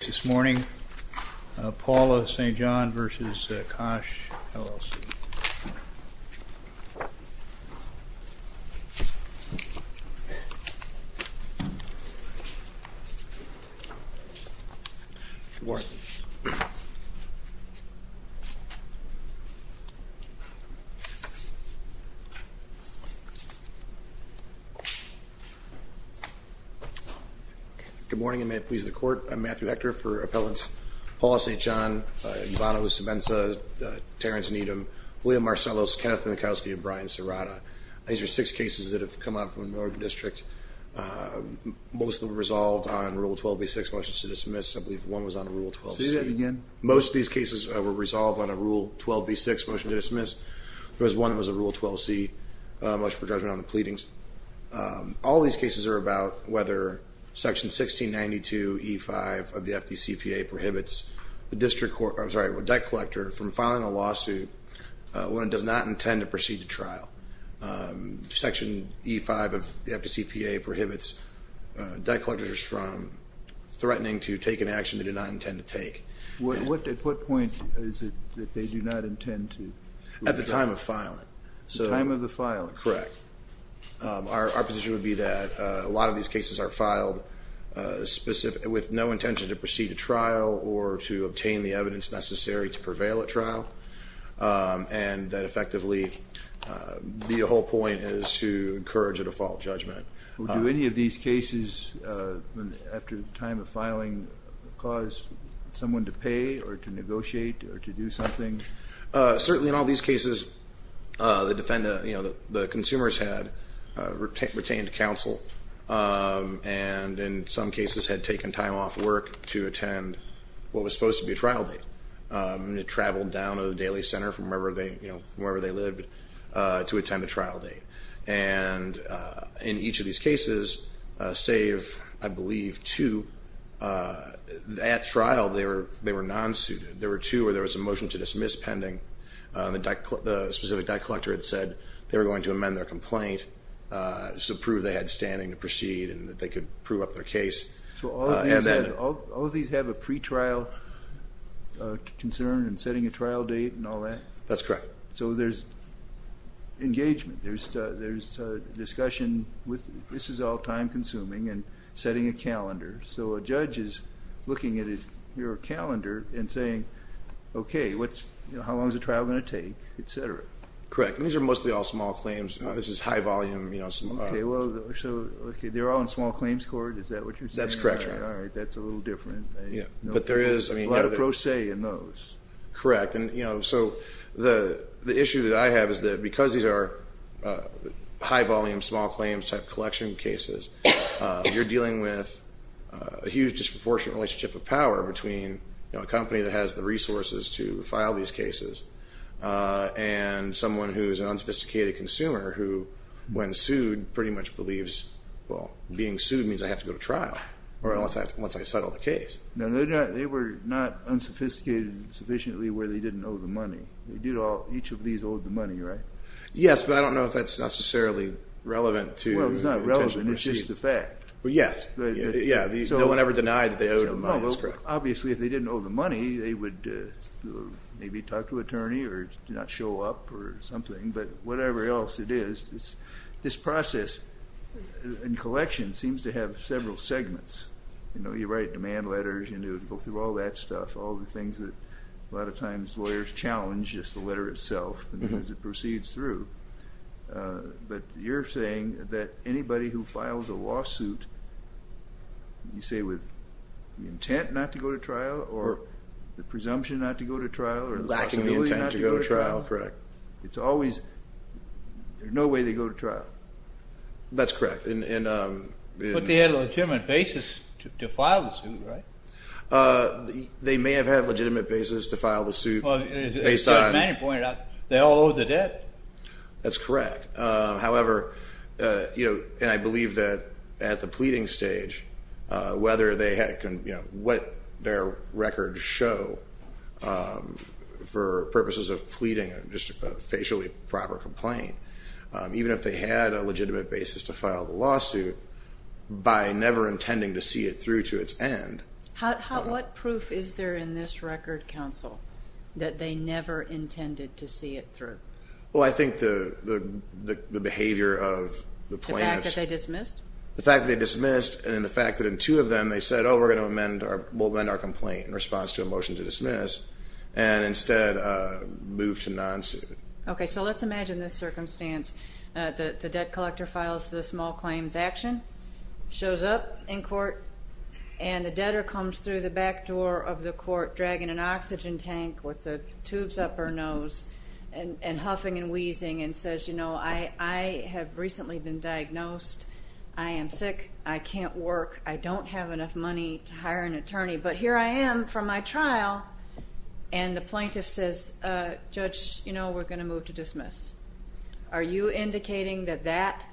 This morning, Paula St. John v. Cach, LLC. Good morning. And may it please the court, I'm Matthew Hector for Appellants Paula St. John, Ivano Savenza, Terrence Needham, William Marcellos, Kenneth Minkowski, and Brian Serrata. These are six cases that have come up from the Oregon District. Most of them were resolved on Rule 12b-6 motions to dismiss. I believe one was on Rule 12c. Say that again. Most of these cases were resolved on a Rule 12b-6 motion to dismiss. There was one that was a Rule 12c motion for judgment on the pleadings. All these cases are about whether Section 1692E5 of the FDCPA prohibits the debt collector Section 1692E5 of the FDCPA prohibits debt collectors from threatening to take an action they do not intend to take. At what point is it that they do not intend to? At the time of filing. At the time of the filing? Correct. Our position would be that a lot of these cases are filed with no intention to proceed to trial or to obtain the evidence necessary to prevail at trial. And that effectively, the whole point is to encourage a default judgment. Do any of these cases, after the time of filing, cause someone to pay or to negotiate or to do something? Certainly in all these cases, the consumers had retained counsel. And in some cases had taken time off work to attend what was supposed to be a trial date. They traveled down to the Daily Center from wherever they lived to attend a trial date. And in each of these cases, save, I believe, two, at trial they were non-suited. There were two where there was a motion to dismiss pending. The specific debt collector had said they were going to amend their complaint to prove they had standing to proceed and that they could prove up their case. So all of these have a pretrial concern and setting a trial date and all that? That's correct. So there's engagement. There's discussion with this is all time-consuming and setting a calendar. So a judge is looking at your calendar and saying, okay, how long is the trial going to take, et cetera? Correct. And these are mostly all small claims. This is high-volume. Okay. So they're all in small claims court? Is that what you're saying? That's correct. All right. That's a little different. But there is a lot of pro se in those. Correct. So the issue that I have is that because these are high-volume, small claims type collection cases, you're dealing with a huge disproportionate relationship of power between a company that has the resources to file these cases and someone who is an unsophisticated consumer who, when sued, pretty much believes, well, being sued means I have to go to trial once I settle the case. No, they were not unsophisticated sufficiently where they didn't owe the money. Each of these owed the money, right? Yes, but I don't know if that's necessarily relevant to the intention to proceed. Well, it's not relevant. It's just a fact. Yes. No one ever denied that they owed the money. That's correct. Obviously, if they didn't owe the money, they would maybe talk to an attorney or not show up or something. But whatever else it is, this process in collection seems to have several segments. You write demand letters, you go through all that stuff, all the things that a lot of times lawyers challenge, just the letter itself as it proceeds through. But you're saying that anybody who files a lawsuit, you say with the intent not to go to trial or the presumption not to go to trial or the possibility not to go to trial. Lacking the intent to go to trial. Correct. There's no way they go to trial. That's correct. But they had a legitimate basis to file the suit, right? They may have had a legitimate basis to file the suit. They all owed the debt. That's correct. However, and I believe that at the pleading stage, what their records show for purposes of pleading, just a facially proper complaint, even if they had a legitimate basis to file the lawsuit, by never intending to see it through to its end. What proof is there in this record, counsel, that they never intended to see it through? Well, I think the behavior of the plaintiffs. The fact that they dismissed? The fact that they dismissed and then the fact that in two of them they said, oh, we'll amend our complaint in response to a motion to dismiss and instead move to non-suit. Okay, so let's imagine this circumstance. And the debtor comes through the back door of the court dragging an oxygen tank with the tube's upper nose and huffing and wheezing and says, you know, I have recently been diagnosed. I am sick. I can't work. I don't have enough money to hire an attorney. But here I am from my trial, and the plaintiff says, Judge, you know, we're going to move to dismiss. Are you indicating that that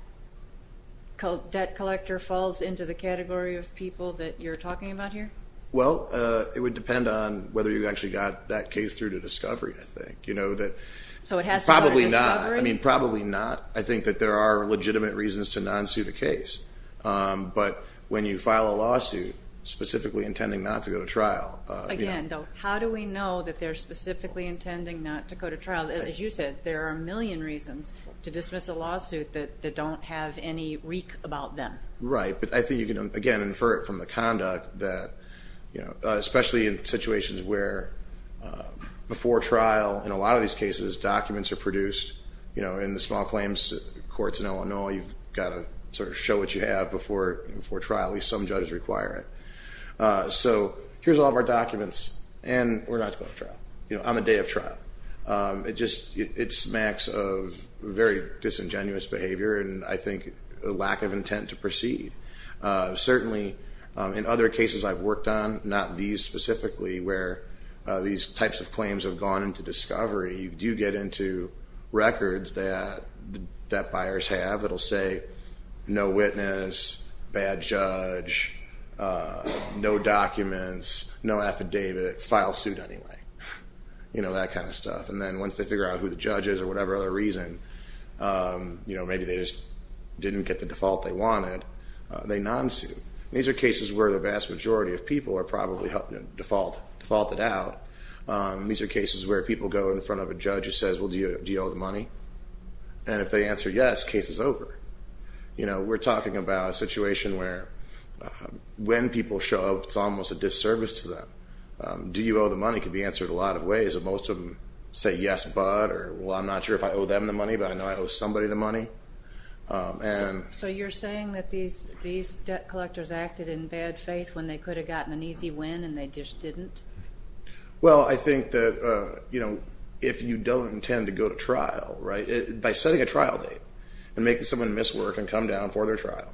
debt collector falls into the category of people that you're talking about here? Well, it would depend on whether you actually got that case through to discovery, I think. So it has to go to discovery? Probably not. I mean, probably not. I think that there are legitimate reasons to non-suit a case. But when you file a lawsuit specifically intending not to go to trial. Again, though, how do we know that they're specifically intending not to go to trial? As you said, there are a million reasons to dismiss a lawsuit that don't have any reek about them. Right. But I think you can, again, infer it from the conduct that, you know, especially in situations where before trial in a lot of these cases documents are produced. You know, in the small claims courts in Illinois, you've got to sort of show what you have before trial. At least some judges require it. So here's all of our documents, and we're not going to trial. You know, I'm a day of trial. It smacks of very disingenuous behavior and, I think, a lack of intent to proceed. Certainly in other cases I've worked on, not these specifically, where these types of claims have gone into discovery, you do get into records that buyers have that will say no witness, bad judge, no documents, no affidavit, file suit anyway, you know, that kind of stuff. And then once they figure out who the judge is or whatever other reason, you know, maybe they just didn't get the default they wanted, they nonsuit. These are cases where the vast majority of people are probably defaulted out. These are cases where people go in front of a judge who says, well, do you owe the money? And if they answer yes, case is over. You know, we're talking about a situation where when people show up, it's almost a disservice to them. Do you owe the money could be answered a lot of ways. Most of them say yes, but, or, well, I'm not sure if I owe them the money, but I know I owe somebody the money. So you're saying that these debt collectors acted in bad faith when they could have gotten an easy win and they just didn't? Well, I think that, you know, if you don't intend to go to trial, right, by setting a trial date and making someone miswork and come down for their trial,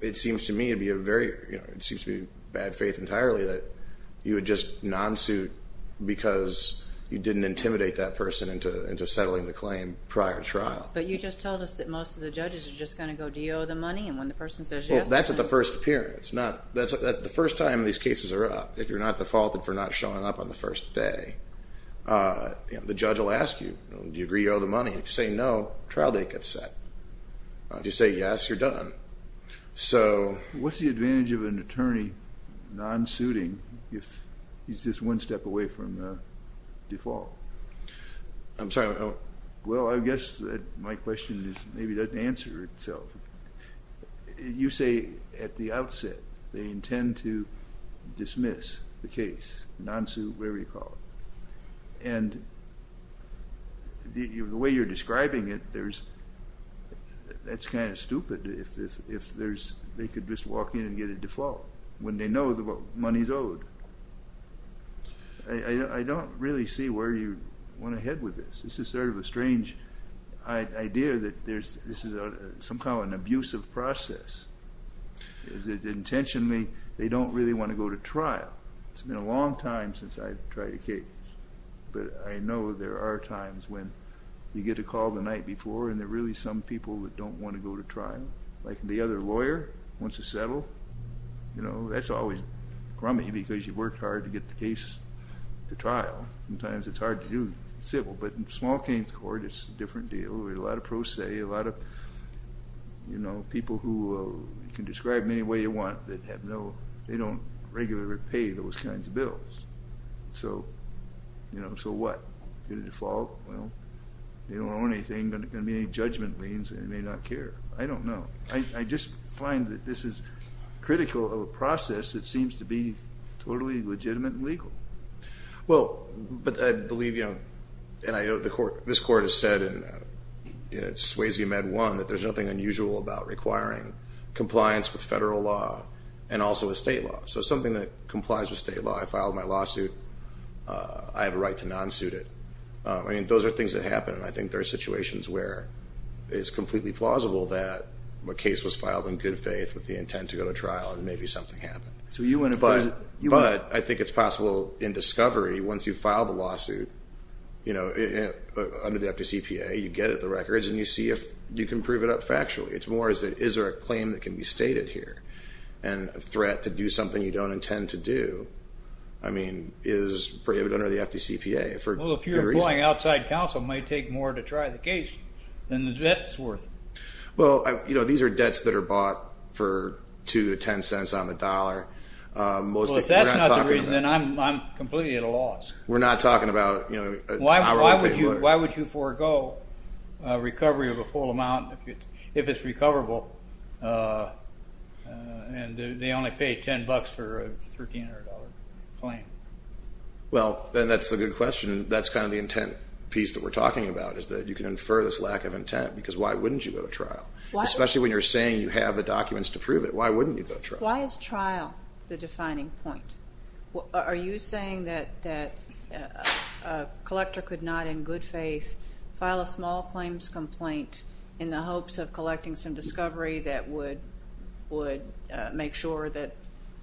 it seems to me to be a very, you know, it seems to be bad faith entirely that you would just nonsuit because you didn't intimidate that person into settling the claim prior to trial. But you just told us that most of the judges are just going to go, do you owe the money? And when the person says yes? Well, that's at the first appearance. The first time these cases are up, if you're not defaulted for not showing up on the first day, the judge will ask you, do you agree you owe the money? If you say no, trial date gets set. If you say yes, you're done. So what's the advantage of an attorney nonsuiting if he's just one step away from default? I'm sorry, what? Well, I guess that my question is maybe doesn't answer itself. You say at the outset they intend to dismiss the case, nonsuit, whatever you call it. And the way you're describing it, that's kind of stupid if they could just walk in and get a default when they know the money is owed. I don't really see where you want to head with this. This is sort of a strange idea that this is some kind of an abusive process. Intentionally, they don't really want to go to trial. It's been a long time since I've tried a case. But I know there are times when you get a call the night before and there are really some people that don't want to go to trial. Like the other lawyer wants to settle. That's always crummy because you worked hard to get the case to trial. Sometimes it's hard to do civil. But in a small case court, it's a different deal. A lot of pro se, a lot of people who you can describe any way you want that they don't regularly pay those kinds of bills. So what? Get a default? They don't owe anything. There's going to be any judgment liens. They may not care. I don't know. I just find that this is critical of a process that seems to be totally legitimate and legal. Well, but I believe, and I know this court has said in Swayze Med 1 that there's nothing unusual about requiring compliance with federal law and also with state law. So something that complies with state law. I filed my lawsuit. I have a right to non-suit it. I mean, those are things that happen, and I think there are situations where it's completely plausible that a case was filed in good faith with the intent to go to trial and maybe something happened. But I think it's possible in discovery, once you file the lawsuit under the FDCPA, you get at the records and you see if you can prove it up factually. It's more, is there a claim that can be stated here? And a threat to do something you don't intend to do, I mean, is braved under the FDCPA. Well, if you're going outside counsel, it might take more to try the case than the debt's worth. Well, you know, these are debts that are bought for $0.2 to $0.10 on the dollar. Well, if that's not the reason, then I'm completely at a loss. Why would you forego recovery of a full amount if it's recoverable and they only paid $10 for a $1,300 claim? Well, that's a good question. That's kind of the intent piece that we're talking about is that you can infer this lack of intent because why wouldn't you go to trial? Especially when you're saying you have the documents to prove it. Why wouldn't you go to trial? Why is trial the defining point? Are you saying that a collector could not in good faith file a small claims complaint in the hopes of collecting some discovery that would make sure that,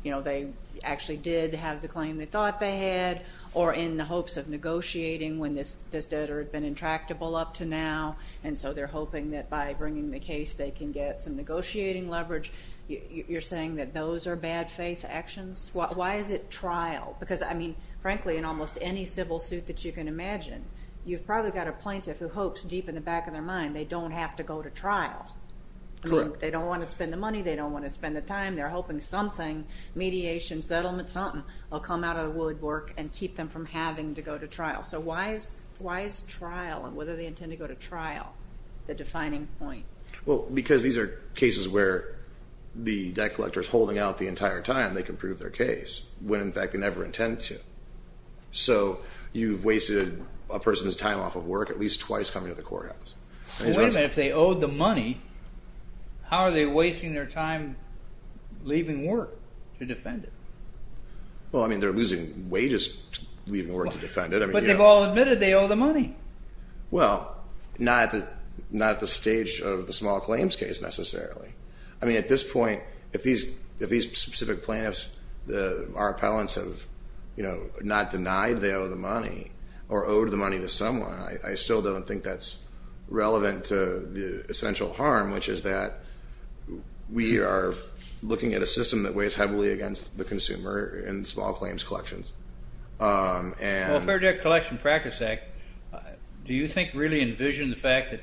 you know, they actually did have the claim they thought they had or in the hopes of negotiating when this debtor had been intractable up to now and so they're hoping that by bringing the case they can get some negotiating leverage? You're saying that those are bad faith actions? Why is it trial? Because, I mean, frankly in almost any civil suit that you can imagine, you've probably got a plaintiff who hopes deep in the back of their mind they don't have to go to trial. Correct. They don't want to spend the money. They don't want to spend the time. They're hoping something, mediation, settlement, something, will come out of the woodwork and keep them from having to go to trial. So why is trial and whether they intend to go to trial the defining point? Well, because these are cases where the debt collector is holding out the entire time. They can prove their case when, in fact, they never intend to. So you've wasted a person's time off of work at least twice coming to the courthouse. Wait a minute. If they owed the money, how are they wasting their time leaving work to defend it? Well, I mean, they're losing wages leaving work to defend it. But they've all admitted they owe the money. Well, not at the stage of the small claims case necessarily. I mean, at this point, if these specific plaintiffs, our appellants, have not denied they owe the money or owed the money to someone, I still don't think that's relevant to the essential harm, which is that we are looking at a system that weighs heavily against the consumer in small claims collections. Well, Fair Debt Collection Practice Act, do you think really envision the fact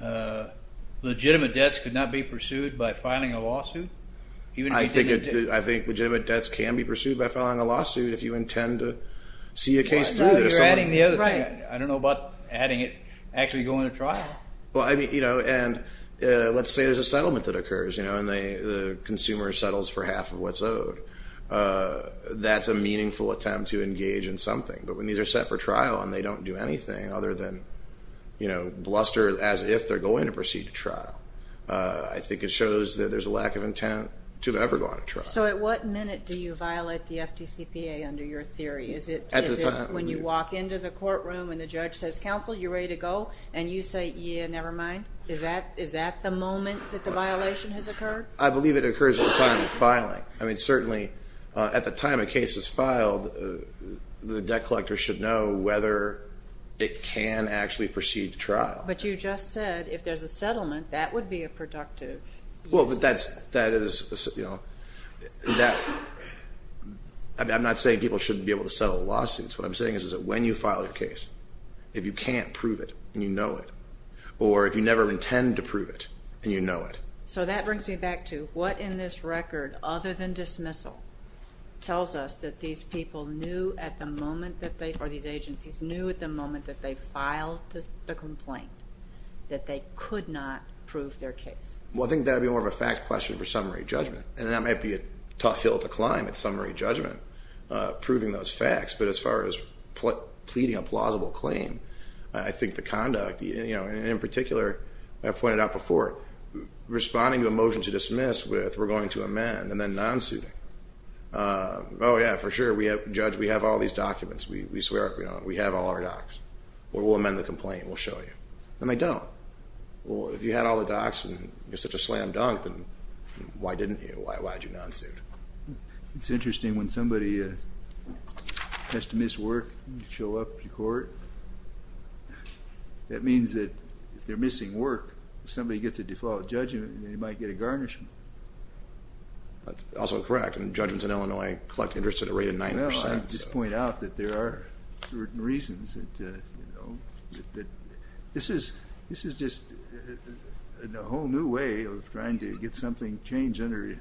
that legitimate debts could not be pursued by filing a lawsuit? I think legitimate debts can be pursued by filing a lawsuit if you intend to see a case through. You're adding the other thing. I don't know about adding it, actually going to trial. Well, I mean, and let's say there's a settlement that occurs, and the consumer settles for half of what's owed. That's a meaningful attempt to engage in something. But when these are set for trial and they don't do anything other than, you know, bluster as if they're going to proceed to trial, I think it shows that there's a lack of intent to have ever gone to trial. So at what minute do you violate the FDCPA under your theory? Is it when you walk into the courtroom and the judge says, counsel, you ready to go? And you say, yeah, never mind? Is that the moment that the violation has occurred? I believe it occurs at the time of filing. I mean, certainly at the time a case is filed, the debt collector should know whether it can actually proceed to trial. But you just said if there's a settlement, that would be a productive use. Well, that is, you know, I'm not saying people shouldn't be able to settle lawsuits. What I'm saying is that when you file your case, if you can't prove it and you know it, or if you never intend to prove it and you know it. So that brings me back to what in this record, other than dismissal, tells us that these people knew at the moment that they, or these agencies knew at the moment that they filed the complaint, that they could not prove their case? Well, I think that would be more of a fact question for summary judgment. And that might be a tough hill to climb at summary judgment, proving those facts. But as far as pleading a plausible claim, I think the conduct, you know, and in particular, I pointed out before, responding to a motion to dismiss with we're going to amend and then non-suiting. Oh, yeah, for sure. Judge, we have all these documents. We swear we don't. We have all our docs. We'll amend the complaint and we'll show you. And they don't. Well, if you had all the docs and you're such a slam dunk, then why didn't you? Why did you non-suit? It's interesting. I mean, when somebody has to miss work to show up to court, that means that if they're missing work, if somebody gets a default judgment, then they might get a garnishment. That's also correct. And judgments in Illinois collect interest at a rate of 9%. Well, I just point out that there are certain reasons that, you know, that this is just a whole new way of trying to get something changed under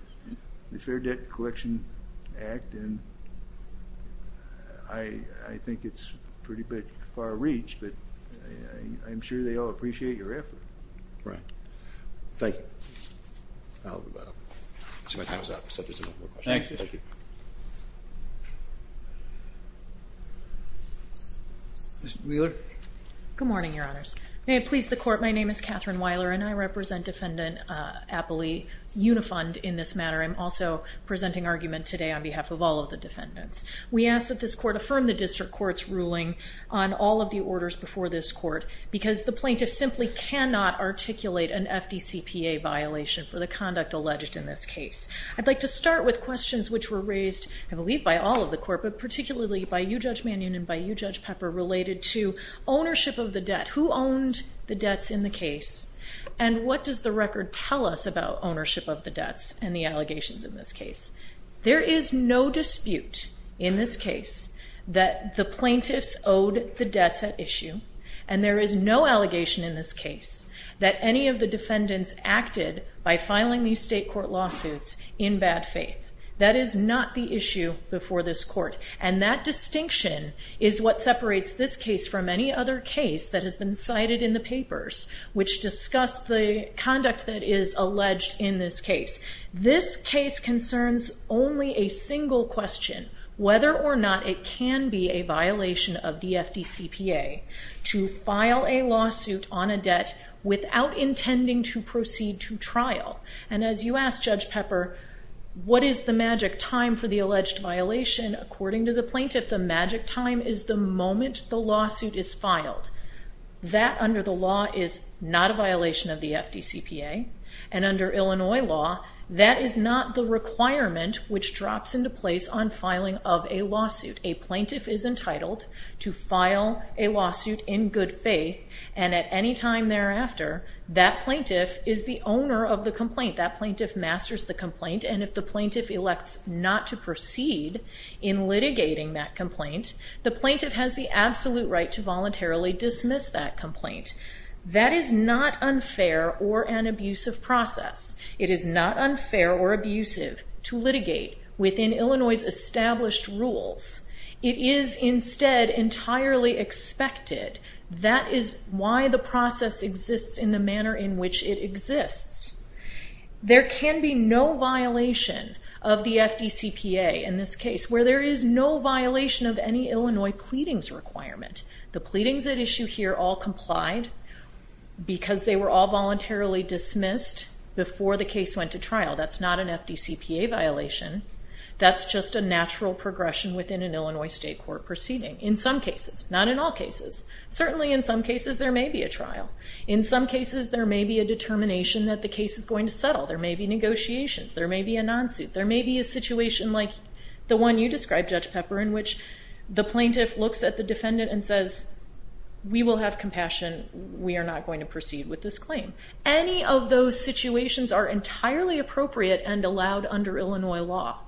the Fair Debt Collection Act, and I think it's pretty far-reached, but I'm sure they all appreciate your effort. Right. Thank you. I'll leave it at that. My time is up, so if there's no more questions. Thank you. Thank you. Ms. Wheeler. Good morning, Your Honors. May it please the Court, my name is Catherine Wheeler, and I represent Defendant Appley Unifund in this matter. I'm also presenting argument today on behalf of all of the defendants. We ask that this Court affirm the District Court's ruling on all of the orders before this Court, because the plaintiff simply cannot articulate an FDCPA violation for the conduct alleged in this case. I'd like to start with questions which were raised, I believe, by all of the Court, but particularly by you, Judge Mannion, and by you, Judge Pepper, related to ownership of the debt. Who owned the debts in the case, and what does the record tell us about ownership of the debts and the allegations in this case? There is no dispute in this case that the plaintiffs owed the debts at issue, and there is no allegation in this case that any of the defendants acted by filing these state court lawsuits in bad faith. That is not the issue before this Court, and that distinction is what separates this case from any other case that has been cited in the papers, which discuss the conduct that is alleged in this case. This case concerns only a single question, whether or not it can be a violation of the FDCPA to file a lawsuit on a debt without intending to proceed to trial. And as you asked, Judge Pepper, what is the magic time for the alleged violation? According to the plaintiff, the magic time is the moment the lawsuit is filed. That, under the law, is not a violation of the FDCPA, and under Illinois law, that is not the requirement which drops into place on filing of a lawsuit. A plaintiff is entitled to file a lawsuit in good faith, and at any time thereafter, that plaintiff is the owner of the complaint. That plaintiff masters the complaint, and if the plaintiff elects not to proceed in litigating that complaint, the plaintiff has the absolute right to voluntarily dismiss that complaint. That is not unfair or an abusive process. It is not unfair or abusive to litigate within Illinois' established rules. It is, instead, entirely expected. That is why the process exists in the manner in which it exists. There can be no violation of the FDCPA in this case, where there is no violation of any Illinois pleadings requirement. The pleadings at issue here all complied because they were all voluntarily dismissed before the case went to trial. That's not an FDCPA violation. That's just a natural progression within an Illinois state court proceeding, in some cases, not in all cases. Certainly, in some cases, there may be a trial. In some cases, there may be a determination that the case is going to settle. There may be negotiations. There may be a non-suit. There may be a situation like the one you described, Judge Pepper, in which the plaintiff looks at the defendant and says, we will have compassion, we are not going to proceed with this claim. Any of those situations are entirely appropriate and allowed under Illinois law.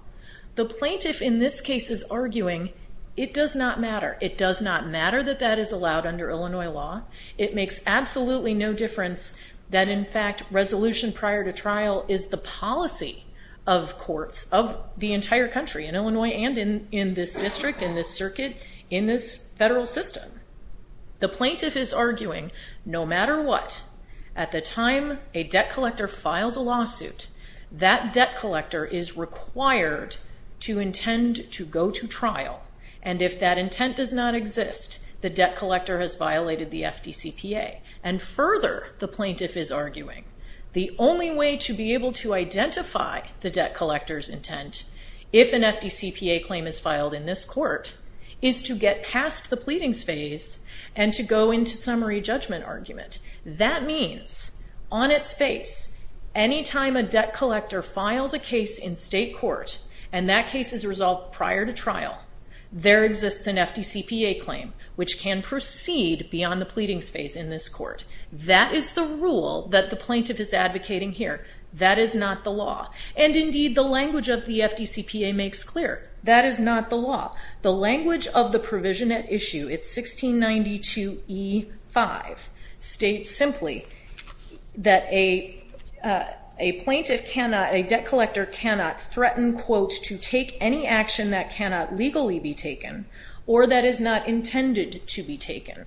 The plaintiff, in this case, is arguing it does not matter. It does not matter that that is allowed under Illinois law. It makes absolutely no difference that, in fact, resolution prior to trial is the policy of courts of the entire country, in Illinois and in this district, in this circuit, in this federal system. The plaintiff is arguing no matter what, at the time a debt collector files a lawsuit, and if that intent does not exist, the debt collector has violated the FDCPA. And further, the plaintiff is arguing, the only way to be able to identify the debt collector's intent, if an FDCPA claim is filed in this court, is to get past the pleadings phase and to go into summary judgment argument. That means, on its face, any time a debt collector files a case in state court, and that case is resolved prior to trial, there exists an FDCPA claim, which can proceed beyond the pleadings phase in this court. That is the rule that the plaintiff is advocating here. That is not the law. And, indeed, the language of the FDCPA makes clear. That is not the law. The language of the provision at issue, it's 1692E5, states simply that a plaintiff cannot, a debt collector cannot threaten, quote, to take any action that cannot legally be taken, or that is not intended to be taken.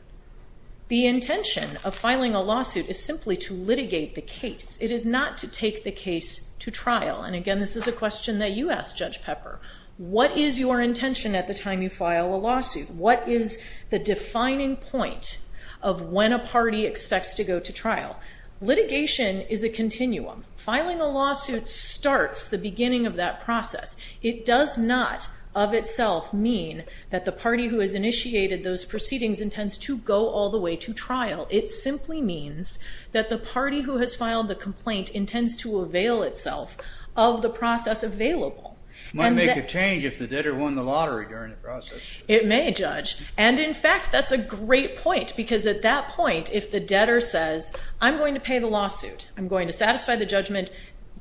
The intention of filing a lawsuit is simply to litigate the case. It is not to take the case to trial. And, again, this is a question that you asked, Judge Pepper. What is your intention at the time you file a lawsuit? What is the defining point of when a party expects to go to trial? Litigation is a continuum. Filing a lawsuit starts the beginning of that process. It does not, of itself, mean that the party who has initiated those proceedings intends to go all the way to trial. It simply means that the party who has filed the complaint intends to avail itself of the process available. It might make a change if the debtor won the lottery during the process. It may, Judge. And, in fact, that's a great point, because at that point if the debtor says, I'm going to pay the lawsuit, I'm going to satisfy the judgment,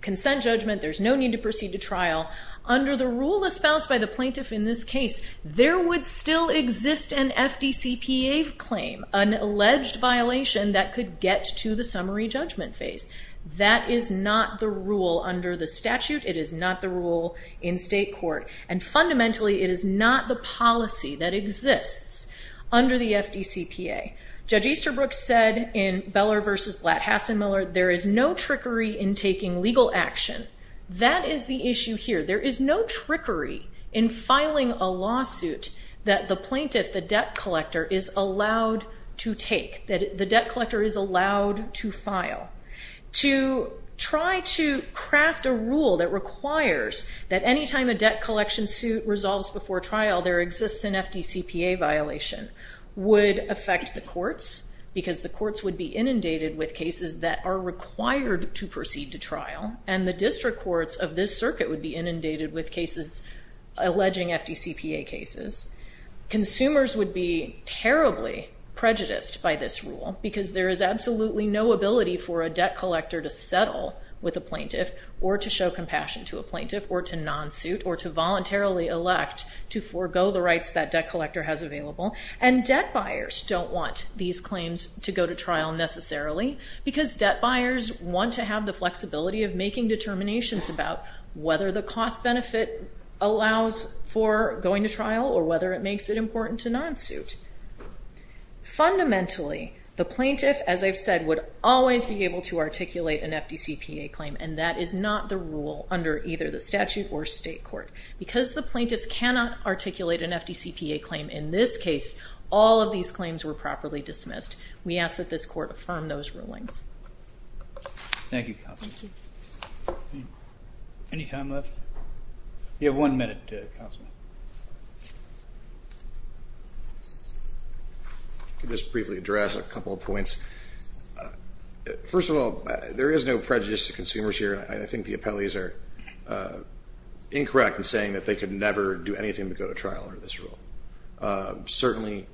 consent judgment, there's no need to proceed to trial, under the rule espoused by the plaintiff in this case, there would still exist an FDCPA claim, an alleged violation that could get to the summary judgment phase. That is not the rule under the statute. It is not the rule in state court. And, fundamentally, it is not the policy that exists under the FDCPA. Judge Easterbrook said in Beller v. Blatt-Hassenmiller, there is no trickery in taking legal action. That is the issue here. There is no trickery in filing a lawsuit that the plaintiff, the debt collector, is allowed to take, that the debt collector is allowed to file. To try to craft a rule that requires that any time a debt collection suit resolves before trial there exists an FDCPA violation would affect the plaintiff cases that are required to proceed to trial. And the district courts of this circuit would be inundated with cases alleging FDCPA cases. Consumers would be terribly prejudiced by this rule, because there is absolutely no ability for a debt collector to settle with a plaintiff, or to show compassion to a plaintiff, or to non-suit, or to voluntarily elect to forego the rights that debt collector has available. And debt buyers don't want these claims to go to trial necessarily, because debt buyers want to have the flexibility of making determinations about whether the cost benefit allows for going to trial, or whether it makes it important to non-suit. Fundamentally, the plaintiff, as I've said, would always be able to articulate an FDCPA claim, and that is not the rule under either the statute or state court. Because the plaintiffs cannot articulate an FDCPA claim in this case, all of these claims were properly dismissed. We ask that this court affirm those rulings. Thank you, Counselor. Any time left? You have one minute, Counselor. Just briefly address a couple of points. First of all, there is no prejudice to consumers here. I think the appellees are incorrect in saying that they could never do anything to go to trial under this rule. Certainly,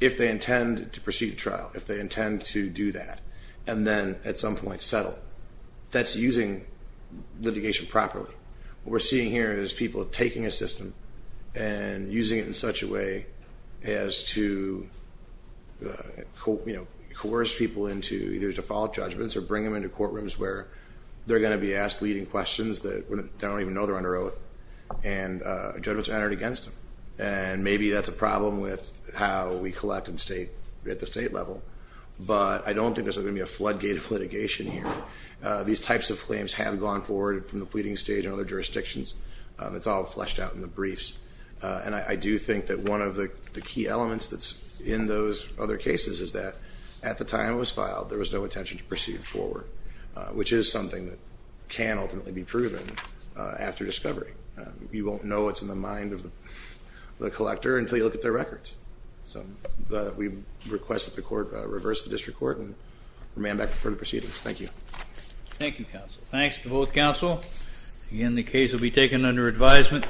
if they intend to proceed to trial, if they intend to do that and then at some point settle, that's using litigation properly. What we're seeing here is people taking a system and using it in such a way as to coerce people into either default judgments or bring them into I think they're going to be asked leading questions that they don't even know they're under oath, and judgments are entered against them. And maybe that's a problem with how we collect at the state level. But I don't think there's going to be a floodgate of litigation here. These types of claims have gone forward from the pleading stage and other jurisdictions. It's all fleshed out in the briefs. And I do think that one of the key elements that's in those other cases is that at the time it was filed, there was no intention to proceed forward, which is something that can ultimately be proven after discovery. You won't know what's in the mind of the collector until you look at their records. So we request that the court reverse the district court and remand back for further proceedings. Thank you. Thank you, counsel. Thanks to both counsel. Again, the case will be taken under advisement.